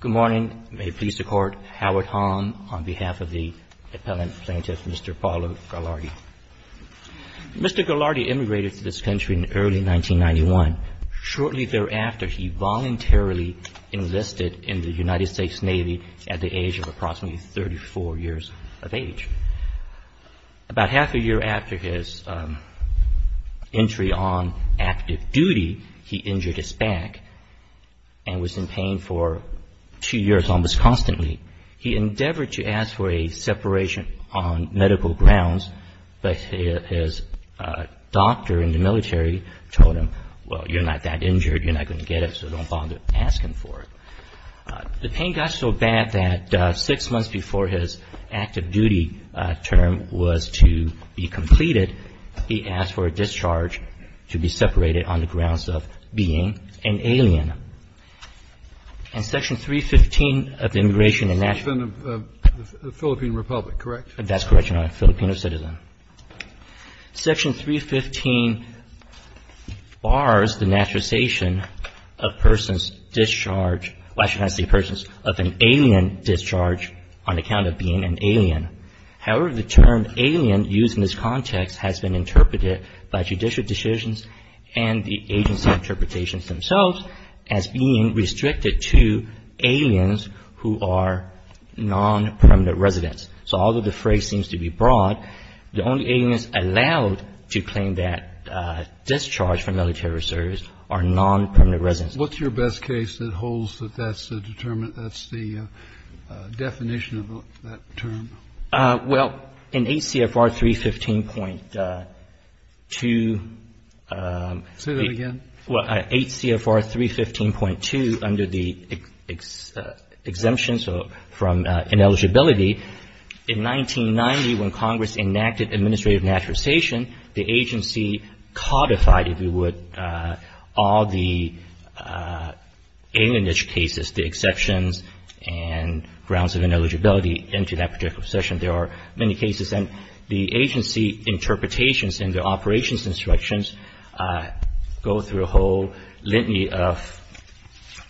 Good morning. May it please the Court, Howard Hong on behalf of the Appellant Plaintiff, Mr. Paolo Gallardi. Mr. Gallardi immigrated to this country in early 1991. Shortly thereafter, he voluntarily enlisted in the United States Navy at the age of approximately 34 years of age. About half a year after his entry on active duty, he injured his back and was in pain for two years almost constantly. He endeavored to ask for a separation on medical grounds, but his doctor in the military told him, well, you're not that injured, you're not going to get it, so don't bother asking for it. The pain got so bad that six months before his active duty term was to be completed, he asked for a discharge to be separated on the grounds of being an alien. In Section 315 of the Immigration and National — The President of the Philippine Republic, correct? That's correct, Your Honor, a Filipino citizen. Section 315 bars the naturalization of persons discharged — well, I shouldn't say persons — of an alien discharge on account of being an alien. However, the term alien used in this context has been interpreted by judicial decisions and the agency interpretations themselves as being restricted to aliens who are non-permanent residents. So although the phrase seems to be broad, the only aliens allowed to claim that discharge from military service are non-permanent residents. What's your best case that holds that that's the determined — that's the definition of that term? Well, in HCFR 315.2 — Say that again. Well, HCFR 315.2 under the exemptions from ineligibility, in 1990 when Congress enacted administrative naturalization, the agency codified, if you would, all the alienage cases, the exceptions and grounds of ineligibility into that particular section. There are many cases. And the agency interpretations and the operations instructions go through a whole litany of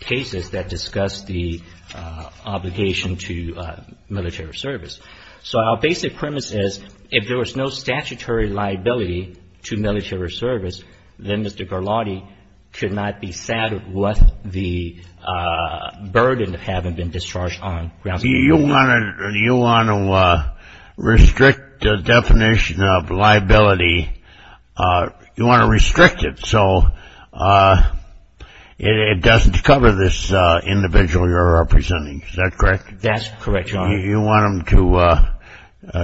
cases that discuss the obligation to military service. So our basic premise is if there was no statutory liability to military service, then Mr. Garlotti could not be saddled with the burden of having been discharged on grounds of ineligibility. You want to restrict the definition of liability. You want to restrict it so it doesn't cover this individual you're representing. Is that correct? That's correct, Your Honor.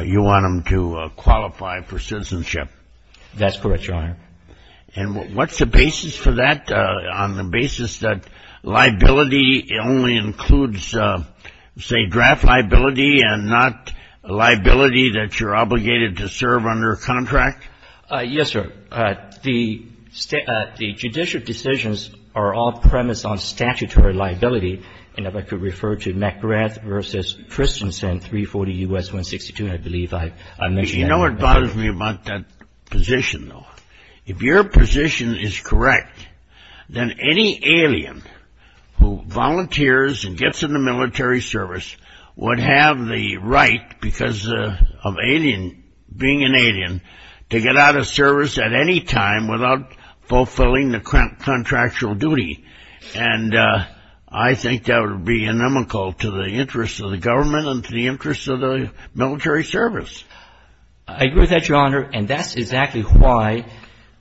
You want him to qualify for citizenship. That's correct, Your Honor. And what's the basis for that on the basis that liability only includes, say, draft liability and not liability that you're obligated to serve under a contract? Yes, sir. The judicial decisions are off-premise on statutory liability. And if I could refer to McGrath v. Christensen, 340 U.S. 162, I believe I mentioned that. You know what bothers me about that position, though? If your position is correct, then any alien who volunteers and gets in the military service would have the right, because of being an alien, to get out of service at any time without fulfilling the contractual duty. And I think that would be inimical to the interests of the government and to the interests of the military service. I agree with that, Your Honor, and that's exactly why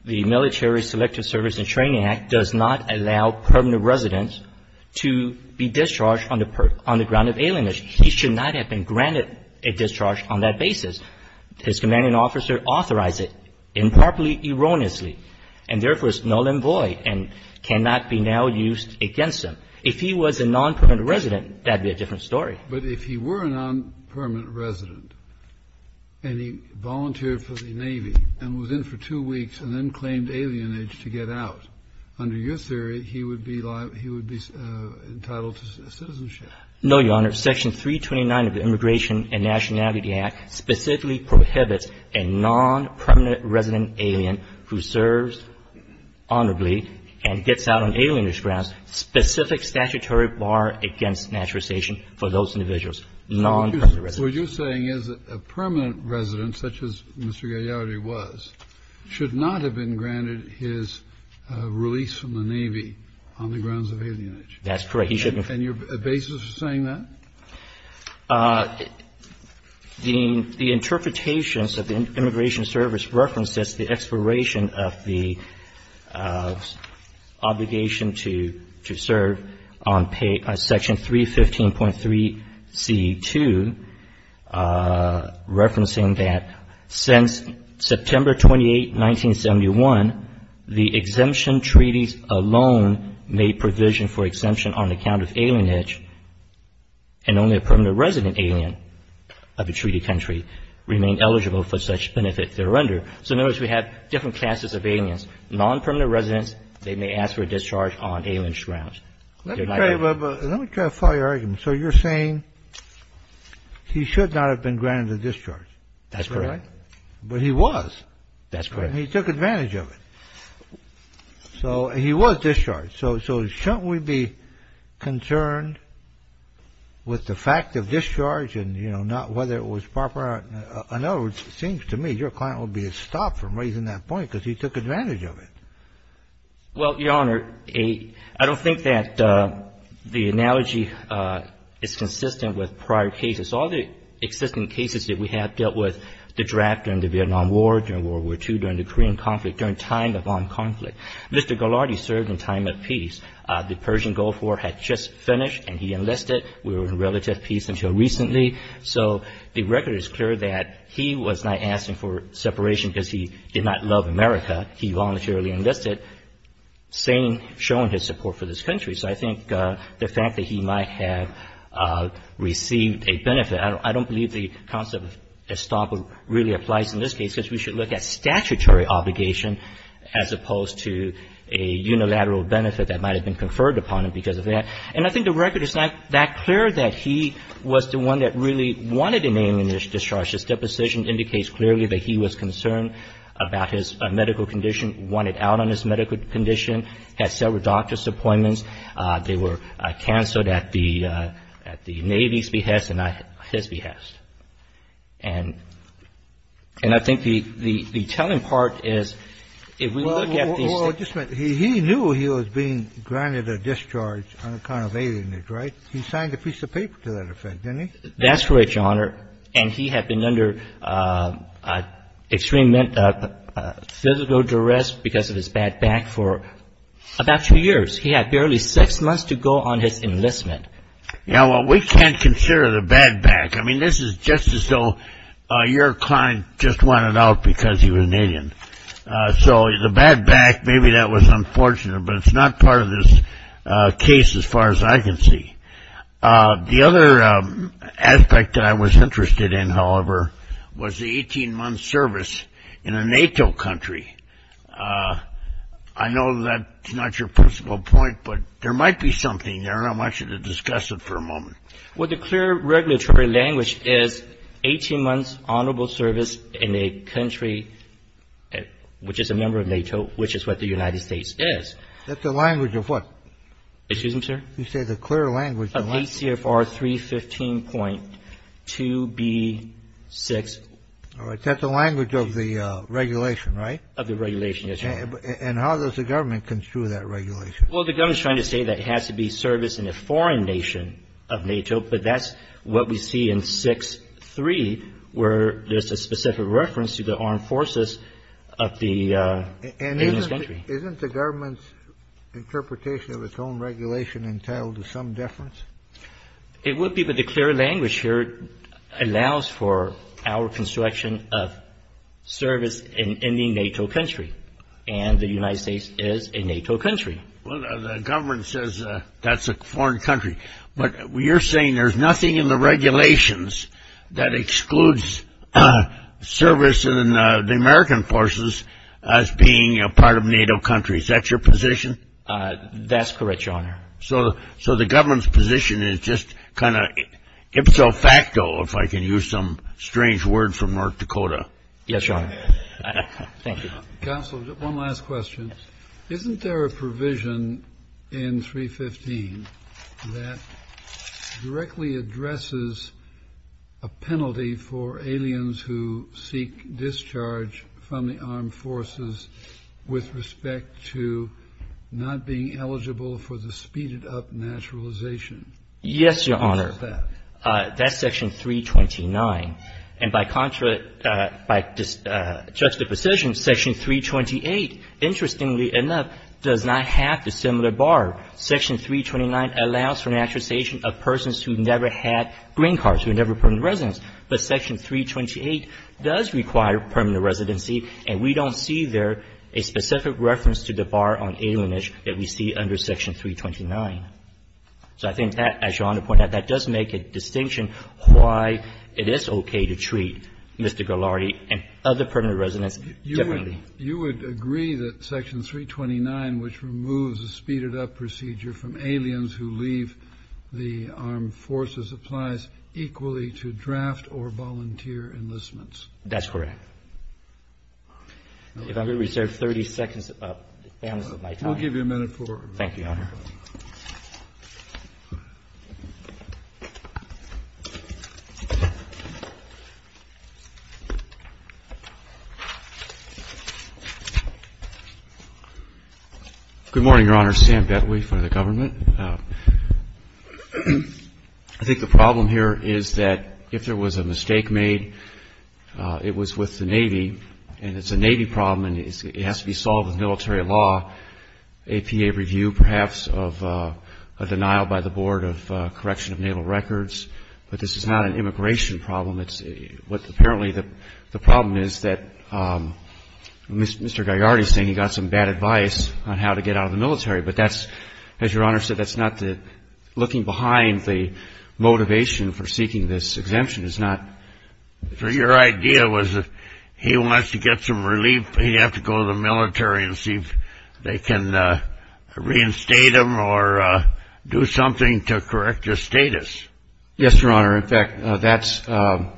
the Military Selective Service and Training Act does not allow permanent residents to be discharged on the ground of alienation. He should not have been granted a discharge on that basis. His commanding officer authorized it improperly, erroneously, and therefore is null and void and cannot be now used against him. If he was a nonpermanent resident, that would be a different story. But if he were a nonpermanent resident and he volunteered for the Navy and was in for two weeks and then claimed alienage to get out, under your theory, he would be entitled to citizenship. No, Your Honor. Section 329 of the Immigration and Nationality Act specifically prohibits a nonpermanent resident alien who serves honorably and gets out on alienage grounds, specific statutory bar against naturalization for those individuals, nonpermanent residents. Kennedy, what you're saying is that a permanent resident, such as Mr. Gagliardi was, should not have been granted his release from the Navy on the grounds of alienage. That's correct. He shouldn't have. And your basis for saying that? The interpretations of the Immigration Service references the expiration of the obligation to serve on Section 315.3c.2, referencing that since September 28, 1971, the exemption treaties alone made provision for exemption on account of alienage and only a permanent resident alien of a treated country remained eligible for such benefit thereunder. So in other words, we have different classes of aliens, nonpermanent residents, they may ask for a discharge on alienage grounds. Let me try to follow your argument. So you're saying he should not have been granted a discharge. That's correct. But he was. That's correct. And he took advantage of it. So he was discharged. So shouldn't we be concerned with the fact of discharge and, you know, not whether it was proper? In other words, it seems to me your client would be stopped from raising that point because he took advantage of it. Well, Your Honor, I don't think that the analogy is consistent with prior cases. All the existing cases that we have dealt with, the draft during the Vietnam War, during World War II, during the Korean conflict, during time of armed conflict. Mr. Ghilardi served in time of peace. The Persian Gulf War had just finished and he enlisted. We were in relative peace until recently. So the record is clear that he was not asking for separation because he did not love America. He voluntarily enlisted, saying, showing his support for this country. So I think the fact that he might have received a benefit, I don't believe the concept of estoppel really applies in this case because we should look at statutory obligation as opposed to a unilateral benefit that might have been conferred upon him because of that. And I think the record is not that clear that he was the one that really wanted to name the discharge. His deposition indicates clearly that he was concerned about his medical condition, wanted out on his medical condition, had several doctor's appointments. They were canceled at the Navy's behest and not his behest. And I think the telling part is if we look at these things. Well, just a minute. He knew he was being granted a discharge on account of alienage, right? He signed a piece of paper to that effect, didn't he? That's right, Your Honor. And he had been under extreme physical duress because of his bad back for about two years. He had barely six months to go on his enlistment. Yeah, well, we can't consider the bad back. I mean, this is just as though your client just wanted out because he was an alien. So the bad back, maybe that was unfortunate, but it's not part of this case as far as I can see. The other aspect that I was interested in, however, was the 18-month service in a NATO country. I know that's not your principal point, but there might be something there, and I want you to discuss it for a moment. Well, the clear regulatory language is 18 months honorable service in a country, which is a member of NATO, which is what the United States is. That's the language of what? Excuse me, sir? You said the clear language. Of ACFR 315.2B6. All right. That's the language of the regulation, right? Of the regulation, yes, Your Honor. And how does the government construe that regulation? Well, the government is trying to say that it has to be service in a foreign nation of NATO, but that's what we see in 6.3 where there's a specific reference to the armed forces of the US country. And isn't the government's interpretation of its own regulation entitled to some deference? It would be, but the clear language here allows for our construction of service in the NATO country, and the United States is a NATO country. Well, the government says that's a foreign country, but you're saying there's nothing in the regulations that excludes service in the American forces as being a part of NATO countries. That's your position? That's correct, Your Honor. So the government's position is just kind of ipso facto, if I can use some strange word from North Dakota. Yes, Your Honor. Thank you. Counsel, one last question. Isn't there a provision in 315 that directly addresses a penalty for aliens who seek discharge from the armed forces with respect to not being eligible for the speeded-up naturalization? Yes, Your Honor. What is that? That's Section 329. And by contract, by juxtaposition, Section 328, interestingly enough, does not have the similar bar. Section 329 allows for naturalization of persons who never had green cards, who never were permanent residents. But Section 328 does require permanent residency, and we don't see there a specific reference to the bar on alienage that we see under Section 329. So I think that, as Your Honor pointed out, that does make a distinction why it is okay to treat Mr. Ghilardi and other permanent residents differently. You would agree that Section 329, which removes the speeded-up procedure from aliens who leave the armed forces, applies equally to draft or volunteer enlistments? That's correct. If I could reserve 30 seconds of my time. We'll give you a minute for it. Thank you, Your Honor. Good morning, Your Honor. Sam Bettwee for the government. I think the problem here is that if there was a mistake made, it was with the Navy, and it's a Navy problem, and it has to be solved with military law, APA review, perhaps, of a denial by the Board of Correction of Naval Records. But this is not an immigration problem. Apparently, the problem is that Mr. Ghilardi is saying he got some bad advice on how to get out of the military, but that's, as Your Honor said, that's not the looking behind the motivation for seeking this exemption. So your idea was that he wants to get some relief, but he'd have to go to the military and see if they can reinstate him or do something to correct his status. Yes, Your Honor. In fact, that's why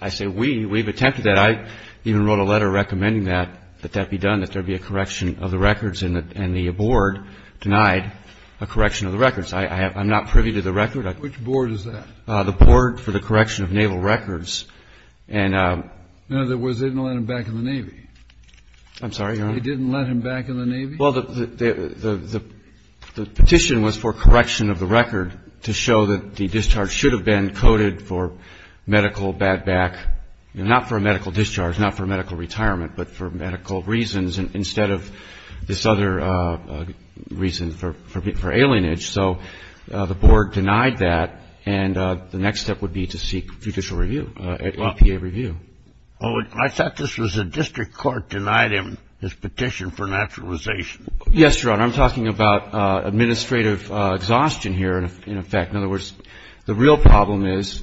I say we've attempted that. I even wrote a letter recommending that that be done, that there be a correction of the records, and the board denied a correction of the records. I'm not privy to the record. Which board is that? The board for the correction of naval records. In other words, they didn't let him back in the Navy? I'm sorry, Your Honor? They didn't let him back in the Navy? Well, the petition was for correction of the record to show that the discharge should have been coded for medical bad back, not for a medical discharge, not for medical retirement, but for medical reasons instead of this other reason for alienage. So the board denied that, and the next step would be to seek judicial review, EPA review. Well, I thought this was the district court denied him his petition for naturalization. Yes, Your Honor. I'm talking about administrative exhaustion here, in effect. In other words, the real problem is,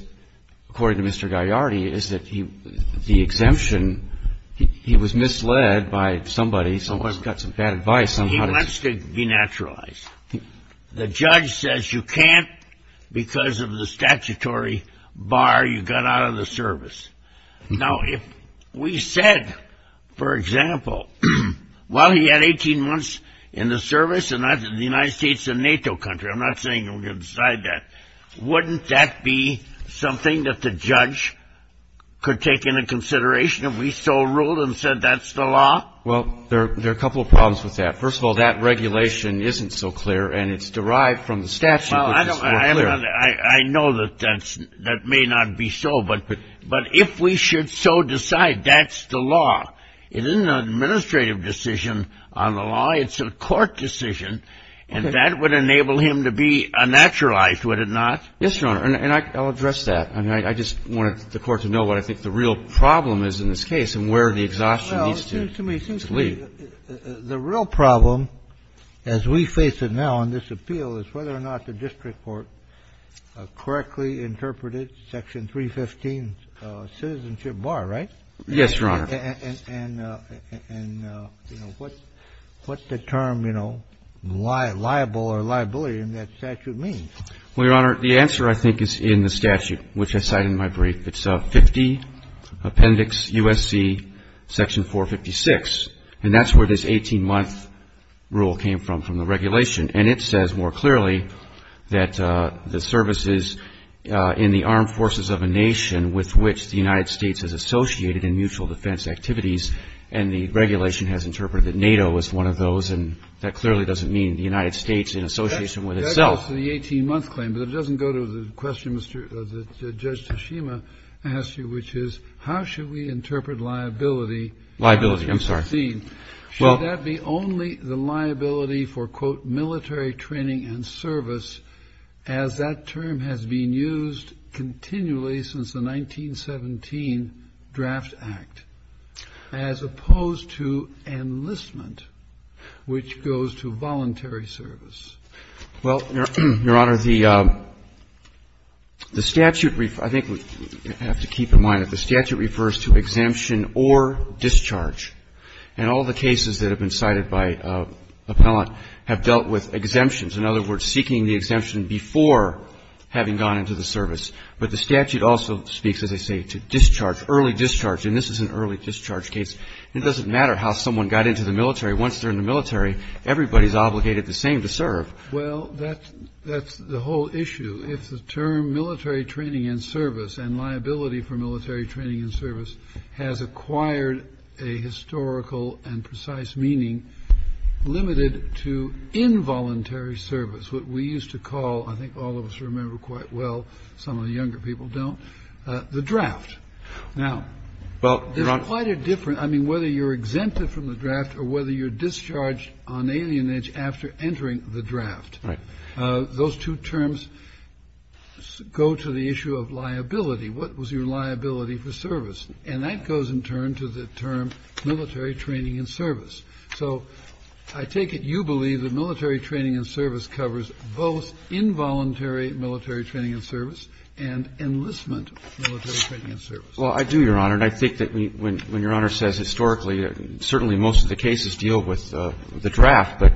according to Mr. Gaiardi, is that the exemption, he was misled by somebody. Someone's got some bad advice on how to do it. He wants to be naturalized. The judge says you can't because of the statutory bar you got out of the service. Now, if we said, for example, well, he had 18 months in the service, and the United States is a NATO country. I'm not saying we're going to decide that. Wouldn't that be something that the judge could take into consideration if we still ruled and said that's the law? Well, there are a couple of problems with that. First of all, that regulation isn't so clear, and it's derived from the statute, which is more clear. I know that that may not be so, but if we should so decide that's the law, it isn't an administrative decision on the law. It's a court decision, and that would enable him to be naturalized, would it not? Yes, Your Honor. And I'll address that. I just wanted the Court to know what I think the real problem is in this case and where the exhaustion needs to lead. It seems to me the real problem as we face it now in this appeal is whether or not the district court correctly interpreted Section 315's citizenship bar, right? Yes, Your Honor. And what's the term, you know, liable or liability in that statute mean? Well, Your Honor, the answer I think is in the statute, which I cite in my brief. It's 50 Appendix U.S.C. Section 456, and that's where this 18-month rule came from, from the regulation. And it says more clearly that the services in the armed forces of a nation with which the United States is associated in mutual defense activities, and the regulation has interpreted that NATO is one of those, and that clearly doesn't mean the United States in the United States is one of those. So it's a 50-month claim, but it doesn't go to the question that Judge Tashima asked you, which is how should we interpret liability? Liability, I'm sorry. Should that be only the liability for, quote, military training and service, as that term has been used continually since the 1917 Draft Act, as opposed to enlistment, which goes to voluntary service? Well, Your Honor, the statute, I think we have to keep in mind that the statute refers to exemption or discharge. And all the cases that have been cited by appellant have dealt with exemptions. In other words, seeking the exemption before having gone into the service. But the statute also speaks, as I say, to discharge, early discharge. And this is an early discharge case. It doesn't matter how someone got into the military. Once they're in the military, everybody's obligated the same to serve. Well, that's the whole issue. If the term military training and service and liability for military training and service has acquired a historical and precise meaning to involuntary service, what we used to call, I think all of us remember quite well, some of the younger people don't, the draft. Now, there's quite a difference. I mean, whether you're exempted from the draft or whether you're discharged on alienage after entering the draft, those two terms go to the issue of liability. What was your liability for service? And that goes in turn to the term military training and service. So I take it you believe that military training and service covers both involuntary military training and service and enlistment military training and service. Well, I do, Your Honor. And I think that when Your Honor says historically, certainly most of the cases deal with the draft. But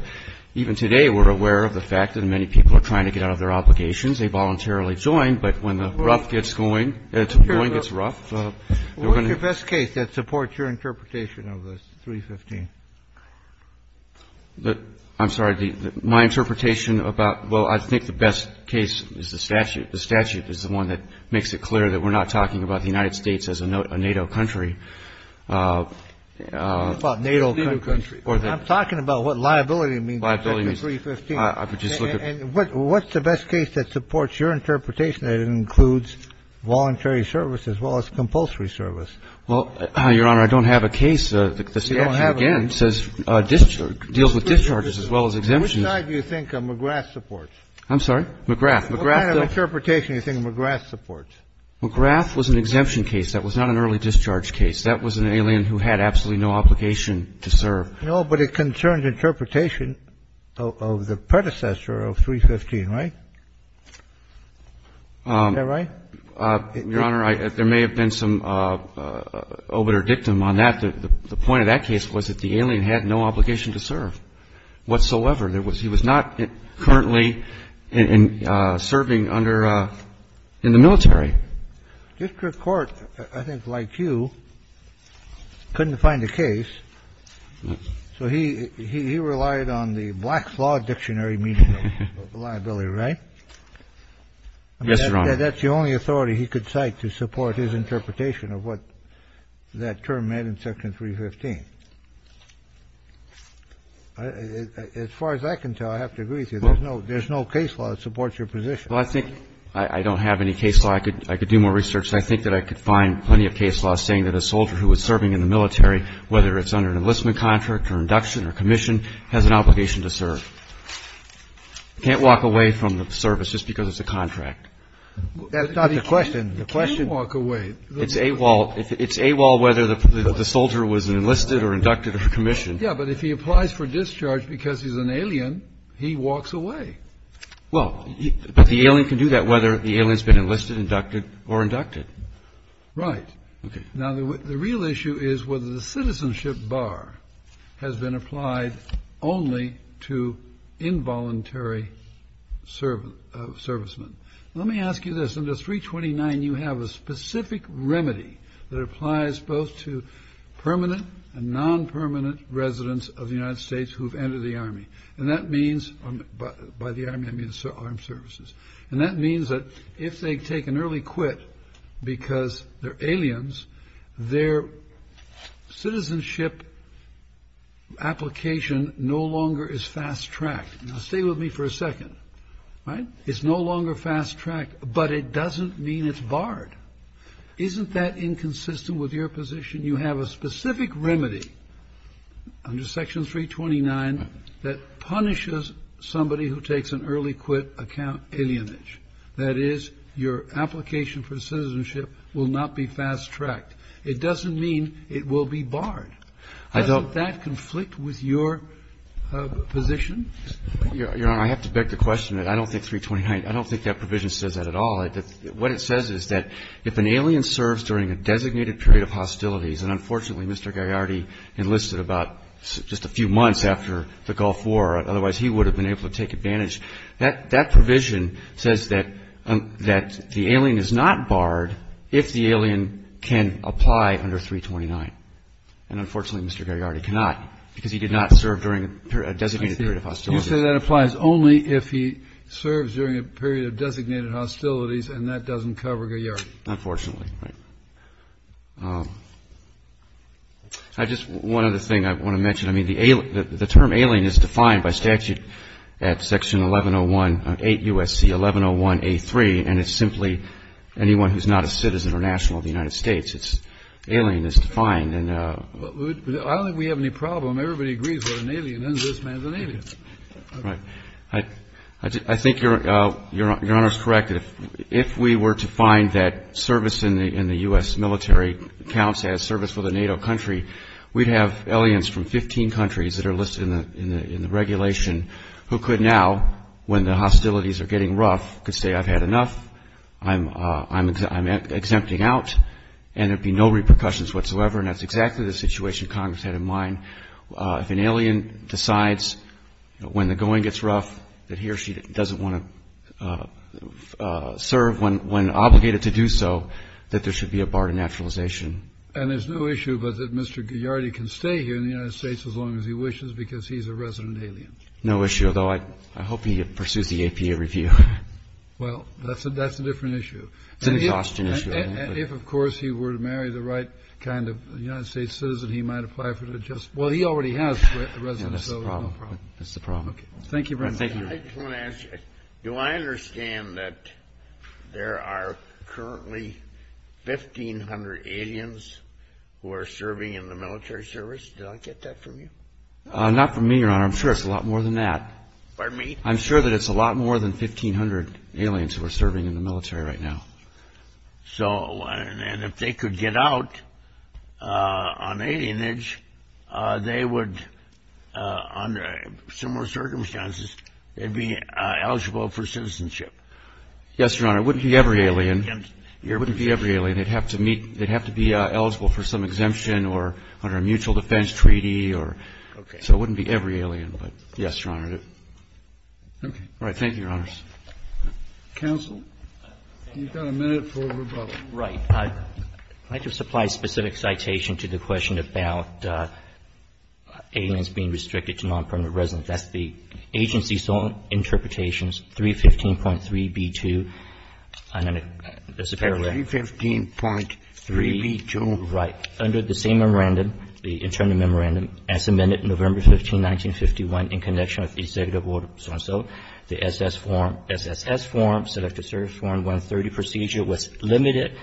even today, we're aware of the fact that many people are trying to get out of their obligations. They voluntarily join, but when the rough gets going, it's going, it's rough. What's your best case that supports your interpretation of the 315? I'm sorry. My interpretation about, well, I think the best case is the statute. The statute is the one that makes it clear that we're not talking about the United States as a NATO country. I'm talking about what liability means in 315. And what's the best case that supports your interpretation that includes voluntary service as well as compulsory service? Well, Your Honor, I don't have a case. The statute, again, deals with discharges as well as exemptions. Which side do you think McGrath supports? I'm sorry? McGrath. What kind of interpretation do you think McGrath supports? McGrath was an exemption case. That was not an early discharge case. That was an alien who had absolutely no obligation to serve. No, but it concerns interpretation of the predecessor of 315, right? Is that right? Your Honor, there may have been some obiter dictum on that. The point of that case was that the alien had no obligation to serve whatsoever. He was not currently serving under the military. District court, I think, like you, couldn't find a case. So he relied on the Black Flaw dictionary meaning liability, right? Yes, Your Honor. That's the only authority he could cite to support his interpretation of what that term meant in Section 315. As far as I can tell, I have to agree with you. There's no case law that supports your position. Well, I think I don't have any case law. I could do more research. I think that I could find plenty of case laws saying that a soldier who was serving in the military, whether it's under an enlistment contract or induction or commission, has an obligation to serve. I can't walk away from the service just because it's a contract. That's not the question. You can't walk away. It's AWOL whether the soldier was enlisted or inducted or commissioned. Yes, but if he applies for discharge because he's an alien, he walks away. Well, but the alien can do that whether the alien's been enlisted, inducted, or inducted. Right. Now, the real issue is whether the citizenship bar has been applied only to involuntary servicemen. Let me ask you this. Under 329, you have a specific remedy that applies both to permanent and non-permanent residents of the United States who have entered the Army. And that means by the Army, I mean armed services. And that means that if they take an early quit because they're aliens, their citizenship application no longer is fast-tracked. Now, stay with me for a second. Right. It's no longer fast-tracked, but it doesn't mean it's barred. Isn't that inconsistent with your position? Your Honor, I have to beg the question. I don't think 329 – I don't think that provision says that at all. What it says is that if an alien serves during a designated period of hostility, and unfortunately, Mr. Gagliardi enlisted about just a few months after the Gulf War. Otherwise, he would have been able to take advantage. That provision says that the alien is not barred if the alien can apply under 329. And unfortunately, Mr. Gagliardi cannot because he did not serve during a designated period of hostility. You say that applies only if he serves during a period of designated hostilities and that doesn't cover Gagliardi. Unfortunately. I just – one other thing I want to mention. I mean, the term alien is defined by statute at Section 1101 – 8 U.S.C. 1101a3, and it's simply anyone who's not a citizen or national of the United States. Alien is defined. I don't think we have any problem. Everybody agrees we're an alien and this man's an alien. Right. I think Your Honor's correct. If we were to find that service in the U.S. military counts as service for the NATO country, we'd have aliens from 15 countries that are listed in the regulation who could now, when the hostilities are getting rough, could say I've had enough, I'm exempting out, and there'd be no repercussions whatsoever, and that's exactly the situation Congress had in mind. If an alien decides when the going gets rough that he or she doesn't want to serve when obligated to do so, that there should be a bar to naturalization. And there's no issue but that Mr. Gagliardi can stay here in the United States as long as he wishes because he's a resident alien. No issue, although I hope he pursues the APA review. Well, that's a different issue. It's an exhaustion issue. If, of course, he were to marry the right kind of United States citizen, he might apply for it just. Well, he already has a residence. That's the problem. That's the problem. Thank you. Do I understand that there are currently 1,500 aliens who are serving in the military service? Did I get that from you? Not from me, Your Honor. I'm sure it's a lot more than that. I'm sure that it's a lot more than 1,500 aliens who are serving in the military right now. So if they could get out on alienage, they would, under similar circumstances, be eligible for citizenship. Yes, Your Honor. It wouldn't be every alien. It wouldn't be every alien. They'd have to be eligible for some exemption or under a mutual defense treaty. So it wouldn't be every alien. All right. Thank you, Your Honors. Counsel, you've got a minute for rebuttal. Right. I'd like to supply a specific citation to the question about aliens being restricted to non-permanent residence. That's the agency's own interpretations, 315.3b2. 315.3b2? Right. Under the same memorandum, the internal memorandum, as amended November 15, 1951, in connection with the executive order so-and-so, the SS form, SSS form, Selective Service Form 130 procedure, was limited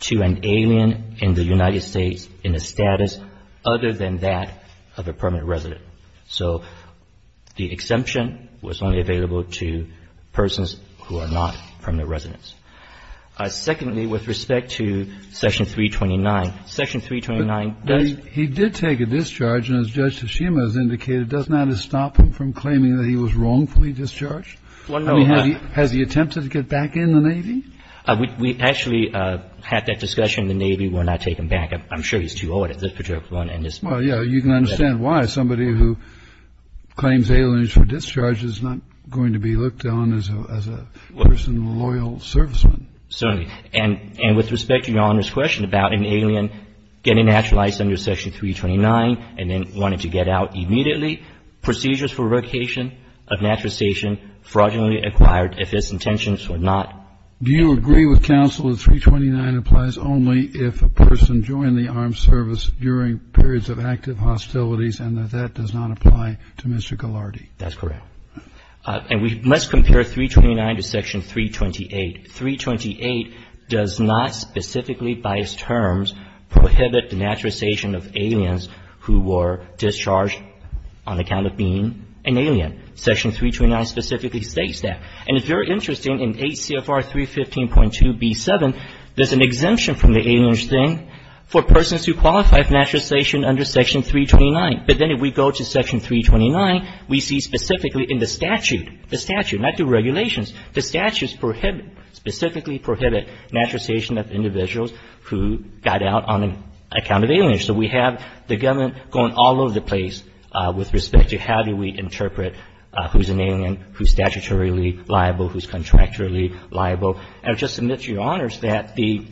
to an alien in the United States in a status other than that of a permanent resident. So the exemption was only available to persons who are not permanent residents. Secondly, with respect to Section 329, Section 329 does… Well, no. I mean, has he attempted to get back in the Navy? We actually had that discussion. The Navy will not take him back. I'm sure he's too old at this point. Well, yeah. You can understand why. Somebody who claims aliens for discharge is not going to be looked on as a person loyal serviceman. Certainly. And with respect to Your Honor's question about an alien getting naturalized under Section 329 and then wanting to get out immediately, procedures for revocation of naturalization fraudulently acquired if his intentions were not. Do you agree with counsel that 329 applies only if a person joined the armed service during periods of active hostilities and that that does not apply to Mr. Ghilardi? That's correct. And we must compare 329 to Section 328. Section 328 does not specifically by its terms prohibit the naturalization of aliens who were discharged on account of being an alien. Section 329 specifically states that. And if you're interested in ACFR 315.2b7, there's an exemption from the aliens thing for persons who qualify for naturalization under Section 329. But then if we go to Section 329, we see specifically in the statute, the statute, not the regulations, the statutes prohibit, specifically prohibit naturalization of individuals who got out on account of aliens. So we have the government going all over the place with respect to how do we interpret who's an alien, who's statutorily liable, who's contractually liable. And I'll just submit to Your Honors that the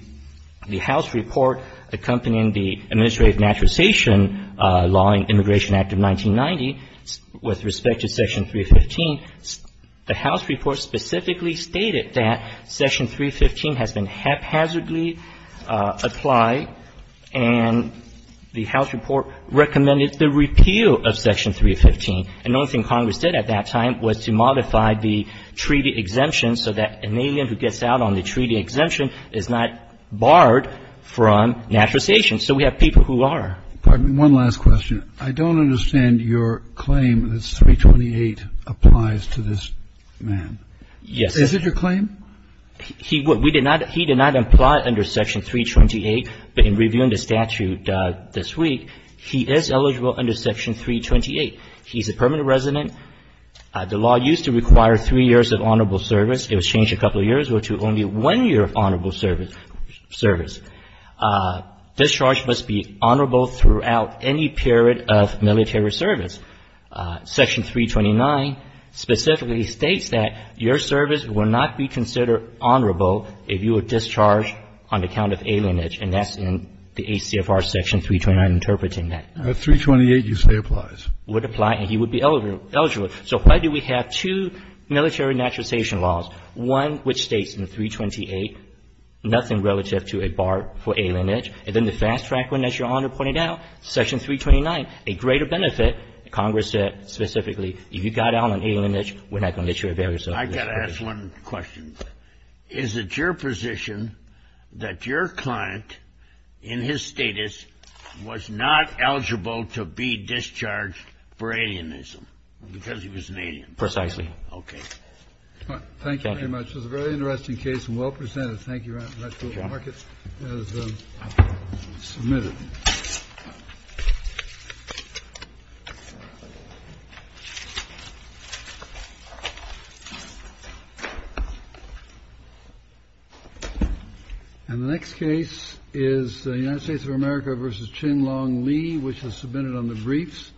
House report accompanying the Administrative Naturalization Law and Immigration Act of 1990 with respect to Section 315, the House report specifically stated that Section 315 has been haphazardly applied. And the House report recommended the repeal of Section 315. And the only thing Congress did at that time was to modify the treaty exemption so that an alien who gets out on the treaty exemption is not barred from naturalization. So we have people who are. I have one last question. I don't understand your claim that 328 applies to this man. Yes. Is it your claim? He would. We did not. He did not apply under Section 328. But in reviewing the statute this week, he is eligible under Section 328. He's a permanent resident. The law used to require three years of honorable service. It was changed a couple of years. We're to only one year of honorable service. Discharge must be honorable throughout any period of military service. Section 329 specifically states that your service will not be considered honorable if you are discharged on account of alienage. And that's in the ACFR Section 329 interpreting that. 328, you say, applies. It would apply, and he would be eligible. So why do we have two military naturalization laws? One, which states in 328, nothing relative to a bar for alienage. And then the fast track one, as Your Honor pointed out, Section 329, a greater benefit. Congress said specifically, if you got out on alienage, we're not going to issue a barrier service. I've got to ask one question. Is it your position that your client, in his status, was not eligible to be discharged for alienism because he was an alien? Precisely. Okay. Thank you very much. It was a very interesting case and well presented. Thank you, Your Honor. I'd like to mark it as submitted. And the next case is the United States of America v. Chin Long Lee, which was submitted on the briefs.